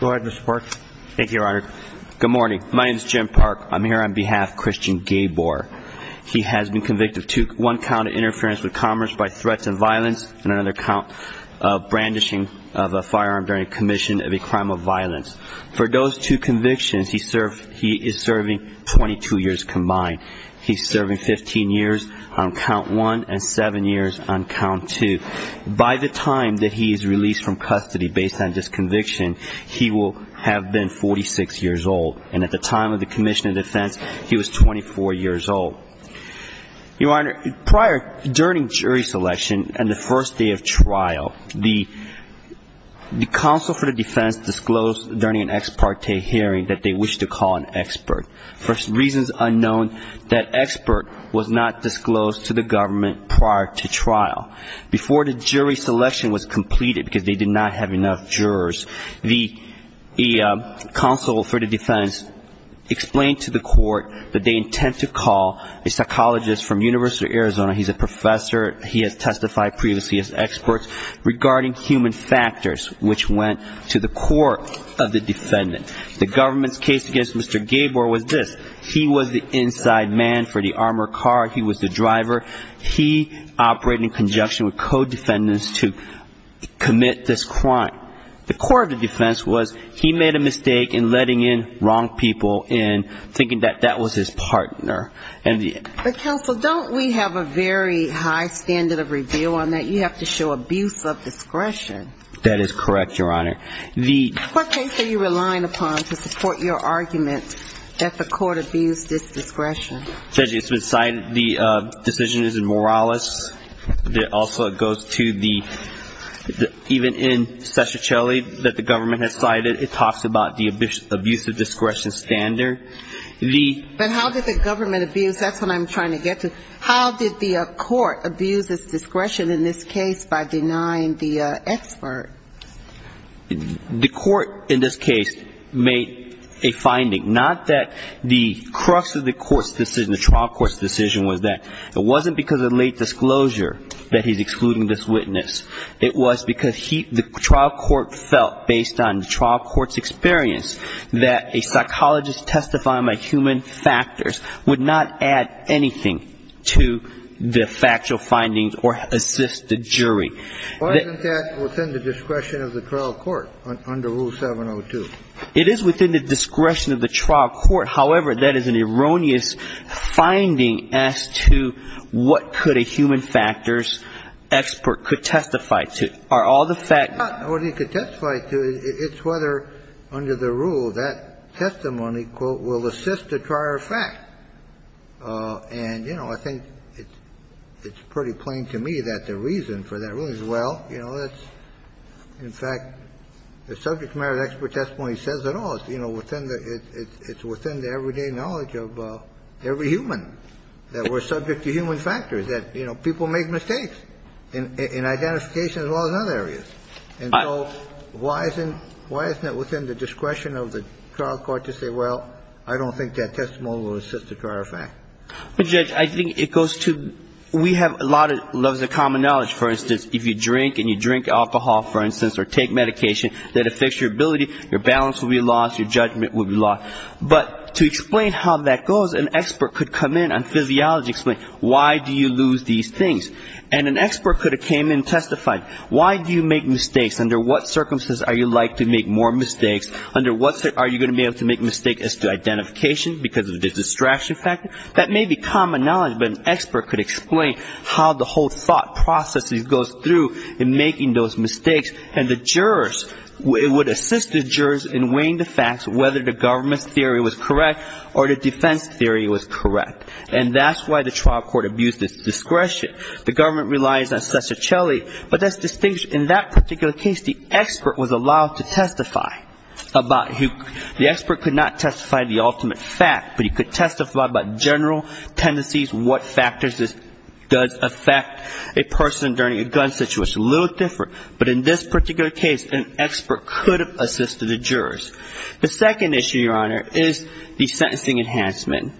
Go ahead, Mr. Park. Thank you, Your Honor. Good morning. My name is Jim Park. I'm here on behalf of Christian Gaybor. He has been convicted of one count of interference with commerce by threats and violence and another count of brandishing of a firearm during a commission of a crime of violence. For those two convictions, he is serving 22 years combined. He's serving 15 years on count one and seven years on count two. By the time that he is released from custody based on this conviction, he will have been 46 years old. And at the time of the commission of defense, he was 24 years old. Your Honor, prior, during jury selection and the first day of trial, the counsel for the defense disclosed during an ex parte hearing that they wished to call an expert. For reasons unknown, that expert was not disclosed to the government prior to trial. Before the jury selection was completed, because they did not have enough jurors, the counsel for the defense explained to the court that they intend to call a psychologist from University of Arizona. He's a professor. He has testified previously as an expert regarding human factors, which went to the court of the defendant. The government's case against Mr. Gabor was this. He was the inside man for the armored car. He was the driver. He operated in conjunction with co-defendants to commit this crime. The court of the defense was he made a mistake in letting in wrong people and thinking that that was his partner. But, counsel, don't we have a very high standard of review on that? You have to show abuse of discretion. That is correct, Your Honor. What case are you relying upon to support your argument that the court abused its discretion? Judge, it's been cited. The decision is in Morales. Also, it goes to the even in Sescicelli that the government has cited. It talks about the abuse of discretion standard. But how did the government abuse? That's what I'm trying to get to. How did the court abuse its discretion in this case by denying the expert? The court in this case made a finding. Not that the crux of the court's decision, the trial court's decision was that. It wasn't because of late disclosure that he's excluding this witness. It was because the trial court felt, based on the trial court's experience, that a psychologist testifying by human factors would not add anything to the factual findings or assist the jury. Why isn't that within the discretion of the trial court under Rule 702? It is within the discretion of the trial court. However, that is an erroneous finding as to what could a human factors expert could testify to. Are all the facts. It's not what he could testify to. It's whether, under the rule, that testimony, quote, will assist a prior fact. And, you know, I think it's pretty plain to me that the reason for that ruling is, well, you know, in fact, the subject matter of the expert testimony says it all. You know, it's within the everyday knowledge of every human that we're subject to human factors, that, you know, people make mistakes in identification as well as in other areas. And so why isn't it within the discretion of the trial court to say, well, I don't think that testimony will assist a prior fact. But, Judge, I think it goes to, we have a lot of levels of common knowledge. For instance, if you drink and you drink alcohol, for instance, or take medication that affects your ability, your balance will be lost, your judgment will be lost. But to explain how that goes, an expert could come in on physiology and explain why do you lose these things. And an expert could have came in and testified. Why do you make mistakes? Under what circumstances are you likely to make more mistakes? Under what circumstances are you going to be able to make mistakes as to identification because of the distraction factor? That may be common knowledge, but an expert could explain how the whole thought process goes through in making those mistakes. And the jurors, it would assist the jurors in weighing the facts, whether the government's theory was correct or the defense theory was correct. And that's why the trial court abused its discretion. The government relies on Cesar Celli. But that's distinguished. In that particular case, the expert was allowed to testify about who, the expert could not testify the ultimate fact, but he could testify about general tendencies, what factors does affect a person during a gun situation. A little different. But in this particular case, an expert could have assisted the jurors. The second issue, Your Honor, is the sentencing enhancement.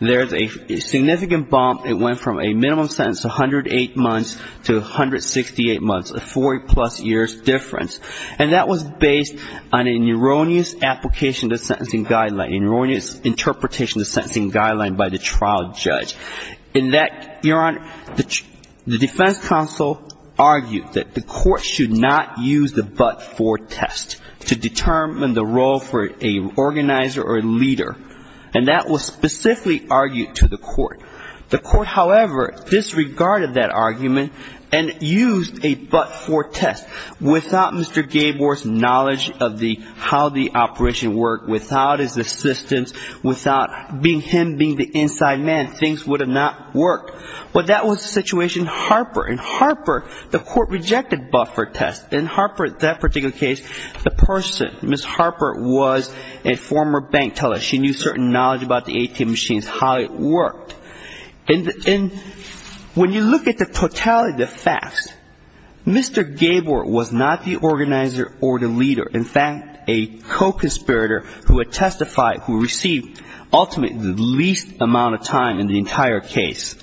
There's a significant bump. It went from a minimum sentence of 108 months to 168 months, a 40-plus years difference. And that was based on an erroneous application of the sentencing guideline, an erroneous interpretation of the sentencing guideline by the trial judge. In that, Your Honor, the defense counsel argued that the court should not use the but-for test to determine the role for an organizer or a leader. And that was specifically argued to the court. The court, however, disregarded that argument and used a but-for test. Without Mr. Gabor's knowledge of how the operation worked, without his assistance, without him being the inside man, things would have not worked. But that was the situation in Harper. In Harper, the court rejected the but-for test. In Harper, that particular case, the person, Ms. Harper, was a former bank teller. She knew certain knowledge about the ATM machines, how it worked. And when you look at the totality of the facts, Mr. Gabor was not the organizer or the leader. In fact, a co-conspirator who had testified, who received ultimately the least amount of time in the entire case,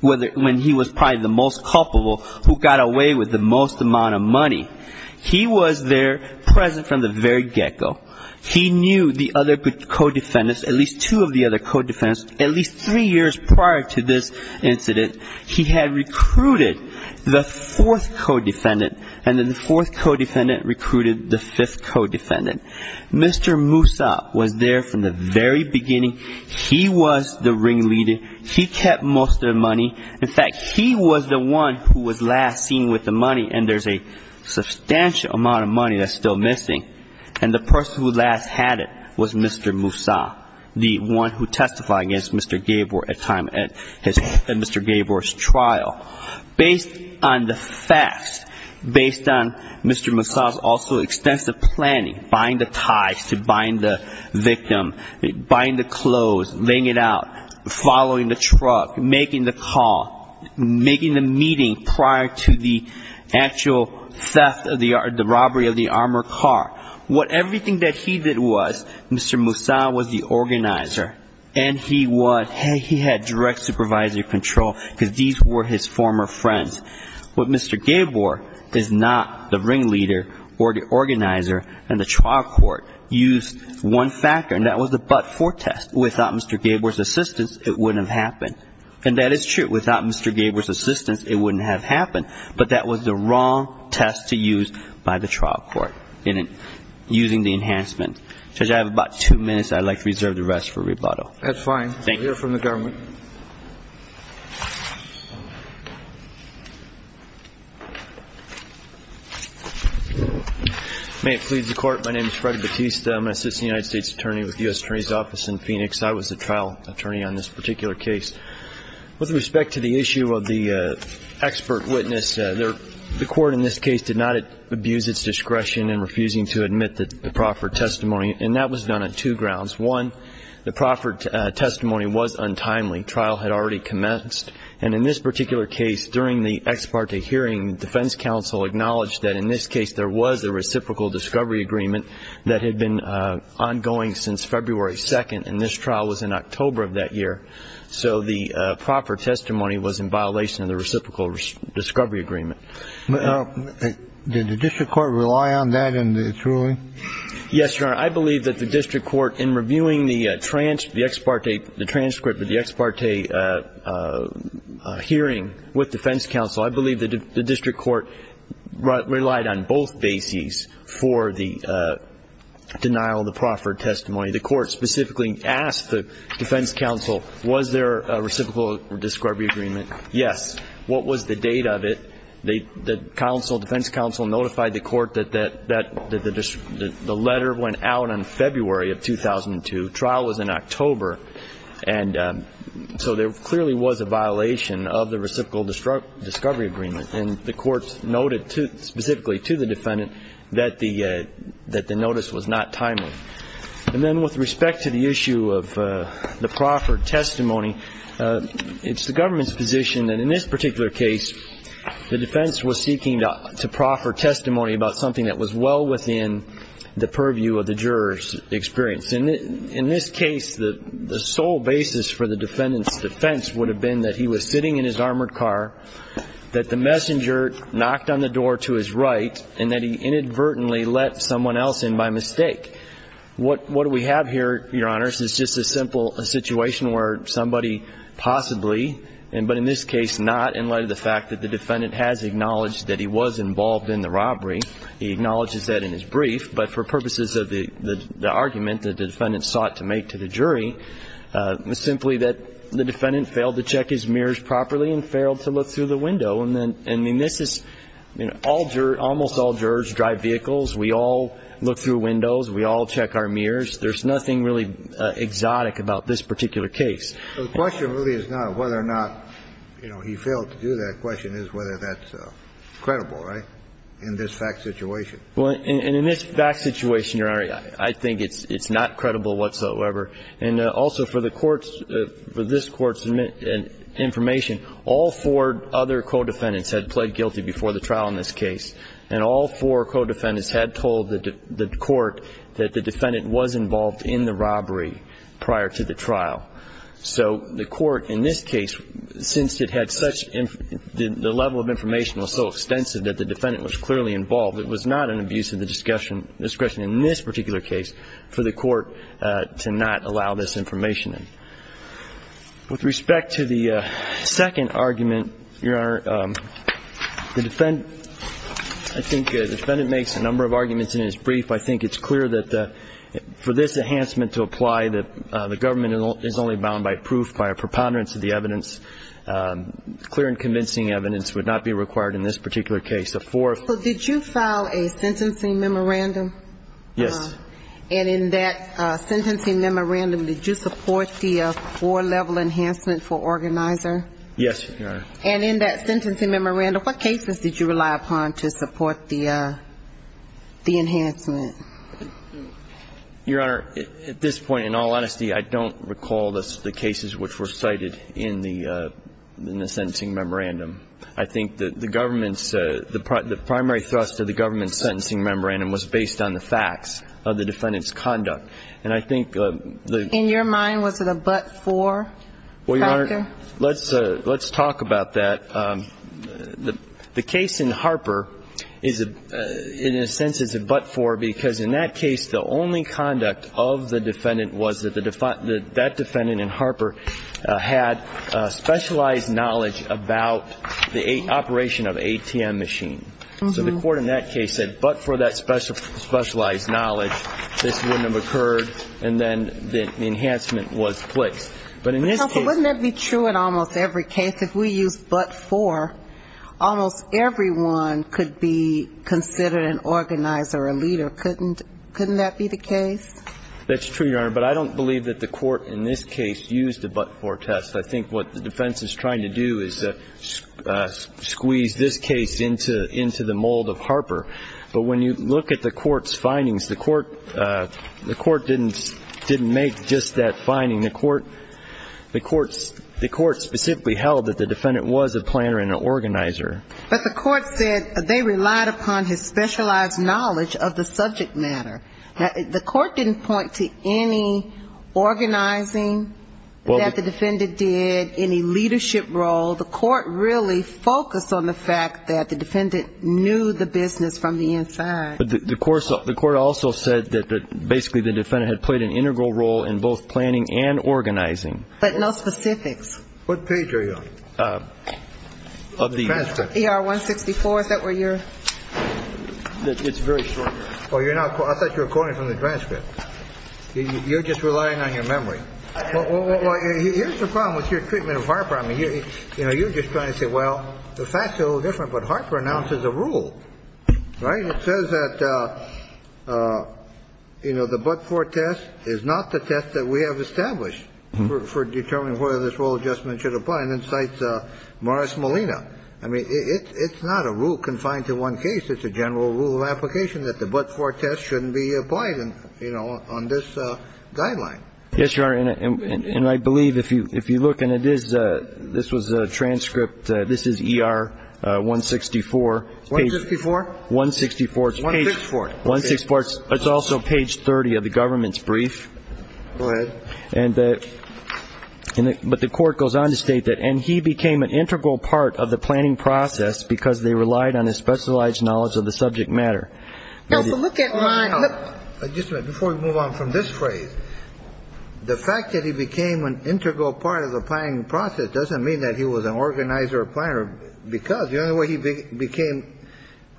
when he was probably the most culpable, who got away with the most amount of money. He was there present from the very get-go. He knew the other co-defendants, at least two of the other co-defendants. At least three years prior to this incident, he had recruited the fourth co-defendant. And then the fourth co-defendant recruited the fifth co-defendant. Mr. Musa was there from the very beginning. He was the ringleader. He kept most of the money. In fact, he was the one who was last seen with the money. And there's a substantial amount of money that's still missing. And the person who last had it was Mr. Musa, the one who testified against Mr. Gabor at Mr. Gabor's trial. Based on the facts, based on Mr. Musa's also extensive planning, buying the ties to buying the victim, buying the clothes, laying it out, following the truck, making the call, making the meeting prior to the actual theft or the robbery of the armored car. What everything that he did was, Mr. Musa was the organizer. And he had direct supervisory control because these were his former friends. But Mr. Gabor is not the ringleader or the organizer in the trial court. He used one factor, and that was the but-for test. Without Mr. Gabor's assistance, it wouldn't have happened. And that is true. Without Mr. Gabor's assistance, it wouldn't have happened. But that was the wrong test to use by the trial court in using the enhancement. Judge, I have about two minutes. I'd like to reserve the rest for rebuttal. That's fine. Thank you. We'll hear from the government. May it please the Court. My name is Fred Batista. I'm an assistant United States attorney with the U.S. Attorney's Office in Phoenix. I was the trial attorney on this particular case. With respect to the issue of the expert witness, the court in this case did not abuse its discretion in refusing to admit the proffered testimony. And that was done on two grounds. One, the proffered testimony was untimely. Trial had already commenced. And in this particular case, during the ex parte hearing, the defense counsel acknowledged that in this case there was a reciprocal discovery agreement that had been ongoing since February 2nd. And this trial was in October of that year. So the proffered testimony was in violation of the reciprocal discovery agreement. Did the district court rely on that in its ruling? Yes, Your Honor. I believe that the district court, in reviewing the transcript of the ex parte hearing with defense counsel, I believe that the district court relied on both bases for the denial of the proffered testimony. The court specifically asked the defense counsel, was there a reciprocal discovery agreement? Yes. What was the date of it? The defense counsel notified the court that the letter went out on February of 2002. Trial was in October. And so there clearly was a violation of the reciprocal discovery agreement. And the court noted specifically to the defendant that the notice was not timely. And then with respect to the issue of the proffered testimony, it's the government's position that in this particular case, the defense was seeking to proffer testimony about something that was well within the purview of the juror's experience. And in this case, the sole basis for the defendant's defense would have been that he was sitting in his armored car, that the messenger knocked on the door to his right, and that he inadvertently let someone else in by mistake. What we have here, Your Honors, is just a simple situation where somebody possibly, but in this case not in light of the fact that the defendant has acknowledged that he was involved in the robbery. He acknowledges that in his brief. But for purposes of the argument that the defendant sought to make to the jury, it's simply that the defendant failed to check his mirrors properly and failed to look through the window. And this is almost all jurors drive vehicles. We all look through windows. We all check our mirrors. There's nothing really exotic about this particular case. The question really is not whether or not he failed to do that. The question is whether that's credible, right, in this fact situation. And in this fact situation, Your Honor, I think it's not credible whatsoever. And also for the court's, for this court's information, all four other co-defendants had pled guilty before the trial in this case, and all four co-defendants had told the court that the defendant was involved in the robbery prior to the trial. So the court in this case, since it had such, the level of information was so extensive that the defendant was clearly involved, it was not an abuse of the discretion in this particular case for the court to not allow this information in. With respect to the second argument, Your Honor, the defendant, I think the defendant makes a number of arguments in his brief. I think it's clear that for this enhancement to apply, the government is only bound by proof, by a preponderance of the evidence. Clear and convincing evidence would not be required in this particular case. It's a four. So did you file a sentencing memorandum? Yes. And in that sentencing memorandum, did you support the four-level enhancement for organizer? Yes, Your Honor. And in that sentencing memorandum, what cases did you rely upon to support the enhancement? Your Honor, at this point, in all honesty, I don't recall the cases which were cited in the sentencing memorandum. I think the government's – the primary thrust of the government's sentencing memorandum was based on the facts of the defendant's conduct. And I think the – In your mind, was it a but-for factor? Well, Your Honor, let's talk about that. The case in Harper is, in a sense, is a but-for because in that case, the only conduct of the defendant was that that defendant in Harper had specialized knowledge about the operation of an ATM machine. So the court in that case said, but for that specialized knowledge, this wouldn't have occurred, and then the enhancement was placed. But in this case – But, Counsel, wouldn't that be true in almost every case? If we use but-for, almost everyone could be considered an organizer, a leader. Couldn't that be the case? That's true, Your Honor. But I don't believe that the court in this case used a but-for test. I think what the defense is trying to do is squeeze this case into the mold of Harper. But when you look at the court's findings, the court didn't make just that finding. The court specifically held that the defendant was a planner and an organizer. But the court said they relied upon his specialized knowledge of the subject matter. The court didn't point to any organizing that the defendant did, any leadership role. The court really focused on the fact that the defendant knew the business from the inside. The court also said that basically the defendant had played an integral role in both planning and organizing. But no specifics. What page are you on? Of the transcript. ER-164, is that where you're? It's very short. I thought you were quoting from the transcript. You're just relying on your memory. Here's the problem with your treatment of Harper. I mean, you're just trying to say, well, the facts are a little different, but Harper announces a rule, right? It says that, you know, the but-for test is not the test that we have established for determining whether this rule adjustment should apply. And then cites Morris Molina. I mean, it's not a rule confined to one case. It's a general rule of application that the but-for test shouldn't be applied, you know, on this guideline. Yes, Your Honor. And I believe if you look, and it is, this was a transcript. This is ER-164. 154? 164. 164. 164. It's also page 30 of the government's brief. Go ahead. But the court goes on to state that, and he became an integral part of the planning process because they relied on his specialized knowledge of the subject matter. Now, look at Ron. Just a minute. Before we move on from this phrase, the fact that he became an integral part of the planning process doesn't mean that he was an organizer or planner, because the only way he became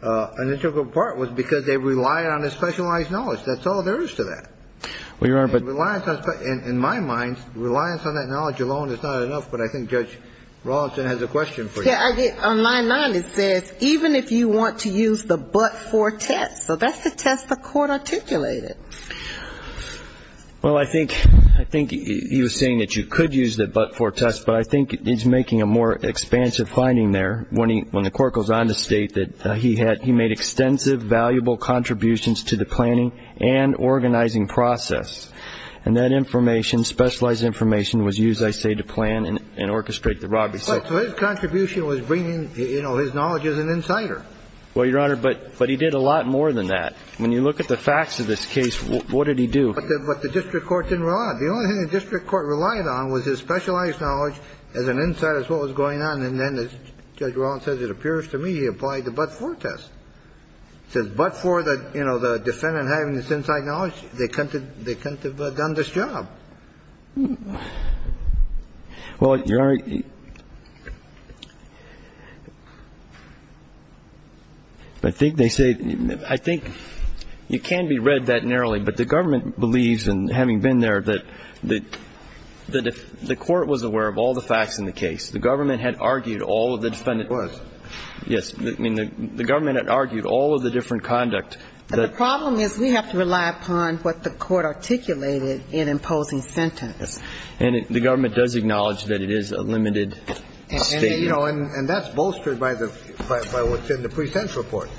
an integral part was because they relied on his specialized knowledge. That's all there is to that. Well, Your Honor, but... In my mind, reliance on that knowledge alone is not enough, but I think Judge Rawlinson has a question for you. Yeah, I did. On line 9, it says, even if you want to use the but-for test. So that's the test the court articulated. Well, I think he was saying that you could use the but-for test, but I think he's making a more expansive finding there. When the court goes on to state that he made extensive, valuable contributions to the planning and organizing process, and that information, specialized information, was used, I say, to plan and orchestrate the robbery. So his contribution was bringing, you know, his knowledge as an insider. Well, Your Honor, but he did a lot more than that. When you look at the facts of this case, what did he do? But the district court didn't rely on it. The only thing the district court relied on was his specialized knowledge as an insider as to what was going on, and then, as Judge Rawlinson says it appears to me, he applied the but-for test. It says but-for, you know, the defendant having this inside knowledge, they couldn't have done this job. Well, Your Honor, I think they say, I think it can be read that narrowly, but the government believes, and having been there, that the court was aware of all the facts in the case. The government had argued all of the defendant was. Yes. I mean, the government had argued all of the different conduct. The problem is we have to rely upon what the court articulated in imposing the but-for test. And the government does acknowledge that it is a limited state. And, you know, and that's bolstered by the pre-sentence report.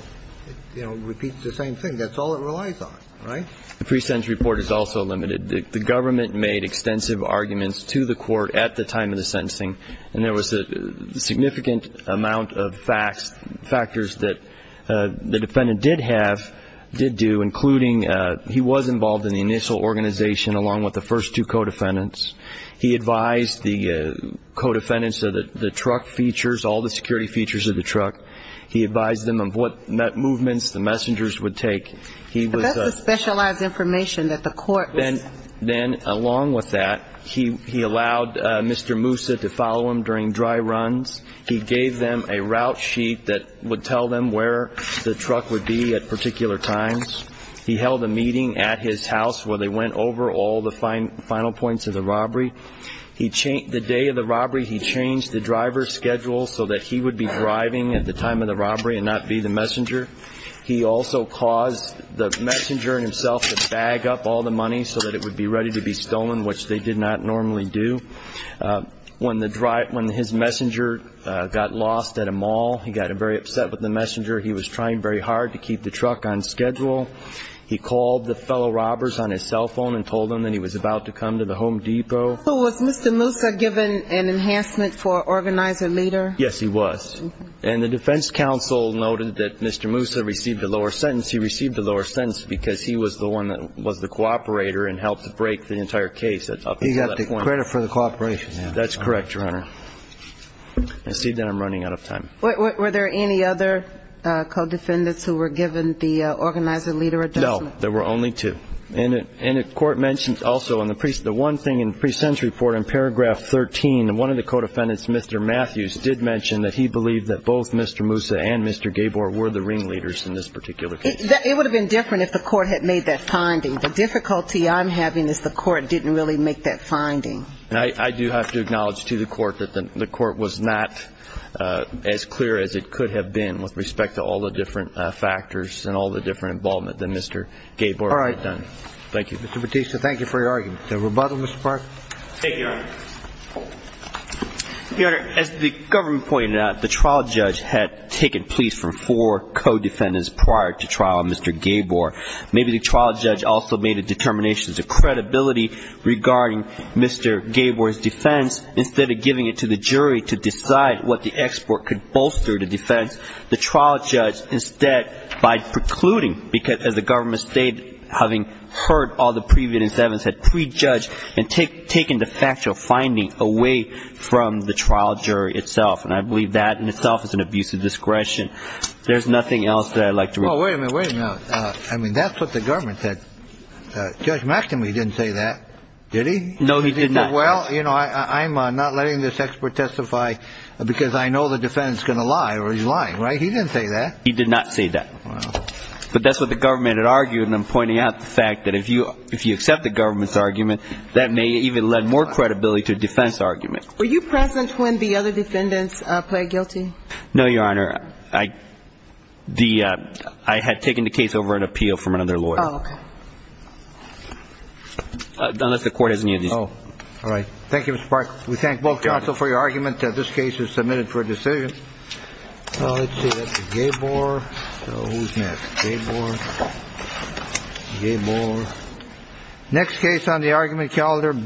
You know, it repeats the same thing. That's all it relies on, right? The pre-sentence report is also limited. The government made extensive arguments to the court at the time of the sentencing, and there was a significant amount of facts, factors that the defendant did have, did do, including he was involved in the initial organization along with the first two co-defendants. He advised the co-defendants of the truck features, all the security features of the truck. He advised them of what movements the messengers would take. But that's the specialized information that the court was. Then along with that, he allowed Mr. Moussa to follow him during dry runs. He gave them a route sheet that would tell them where the truck would be at particular times. He held a meeting at his house where they went over all the final points of the robbery. The day of the robbery, he changed the driver's schedule so that he would be driving at the time of the robbery and not be the messenger. He also caused the messenger himself to bag up all the money so that it would be ready to be stolen, which they did not normally do. When his messenger got lost at a mall, he got very upset with the messenger. He was trying very hard to keep the truck on schedule. He called the fellow robbers on his cell phone and told them that he was about to come to the Home Depot. So was Mr. Moussa given an enhancement for organizer leader? Yes, he was. And the defense counsel noted that Mr. Moussa received a lower sentence. He received a lower sentence because he was the one that was the cooperator and helped to break the entire case. He got the credit for the cooperation. That's correct, Your Honor. I see that I'm running out of time. Were there any other co-defendants who were given the organizer leader adjustment? No, there were only two. And the court mentioned also in the one thing in the pre-sentence report in paragraph 13, one of the co-defendants, Mr. Matthews, did mention that he believed that both Mr. Moussa and Mr. Gabor were the ringleaders in this particular case. It would have been different if the court had made that finding. The difficulty I'm having is the court didn't really make that finding. And I do have to acknowledge to the court that the court was not as clear as it could have been with respect to all the different factors and all the different involvement that Mr. Gabor had done. All right. Thank you. Mr. Bautista, thank you for your argument. Is there a rebuttal, Mr. Parker? Thank you, Your Honor. Your Honor, as the government pointed out, the trial judge had taken pleas from four co-defendants prior to trial, Mr. Gabor. Maybe the trial judge also made a determination to credibility regarding Mr. Gabor's defense instead of giving it to the jury to decide what the export could bolster the defense. The trial judge instead, by precluding, because as the government stated, having heard all the previous evidence, had prejudged and taken the factual finding away from the trial jury itself. And I believe that in itself is an abuse of discretion. There's nothing else that I'd like to read. Well, wait a minute, wait a minute. I mean, that's what the government said. Judge McNamee didn't say that. Did he? No, he did not. Well, you know, I'm not letting this expert testify because I know the defendant's going to lie or he's lying. Right? He didn't say that. He did not say that. But that's what the government had argued, and I'm pointing out the fact that if you accept the government's argument, that may even lend more credibility to a defense argument. Were you present when the other defendants pled guilty? No, Your Honor. I had taken the case over at appeal from another lawyer. Oh, okay. Unless the court has any of these. Oh. All right. Thank you, Mr. Parker. We thank both counsel for your argument that this case is submitted for a decision. Let's see. That's Gabor. So who's next? Gabor. Gabor. Next case on the argument calendar, Brewer.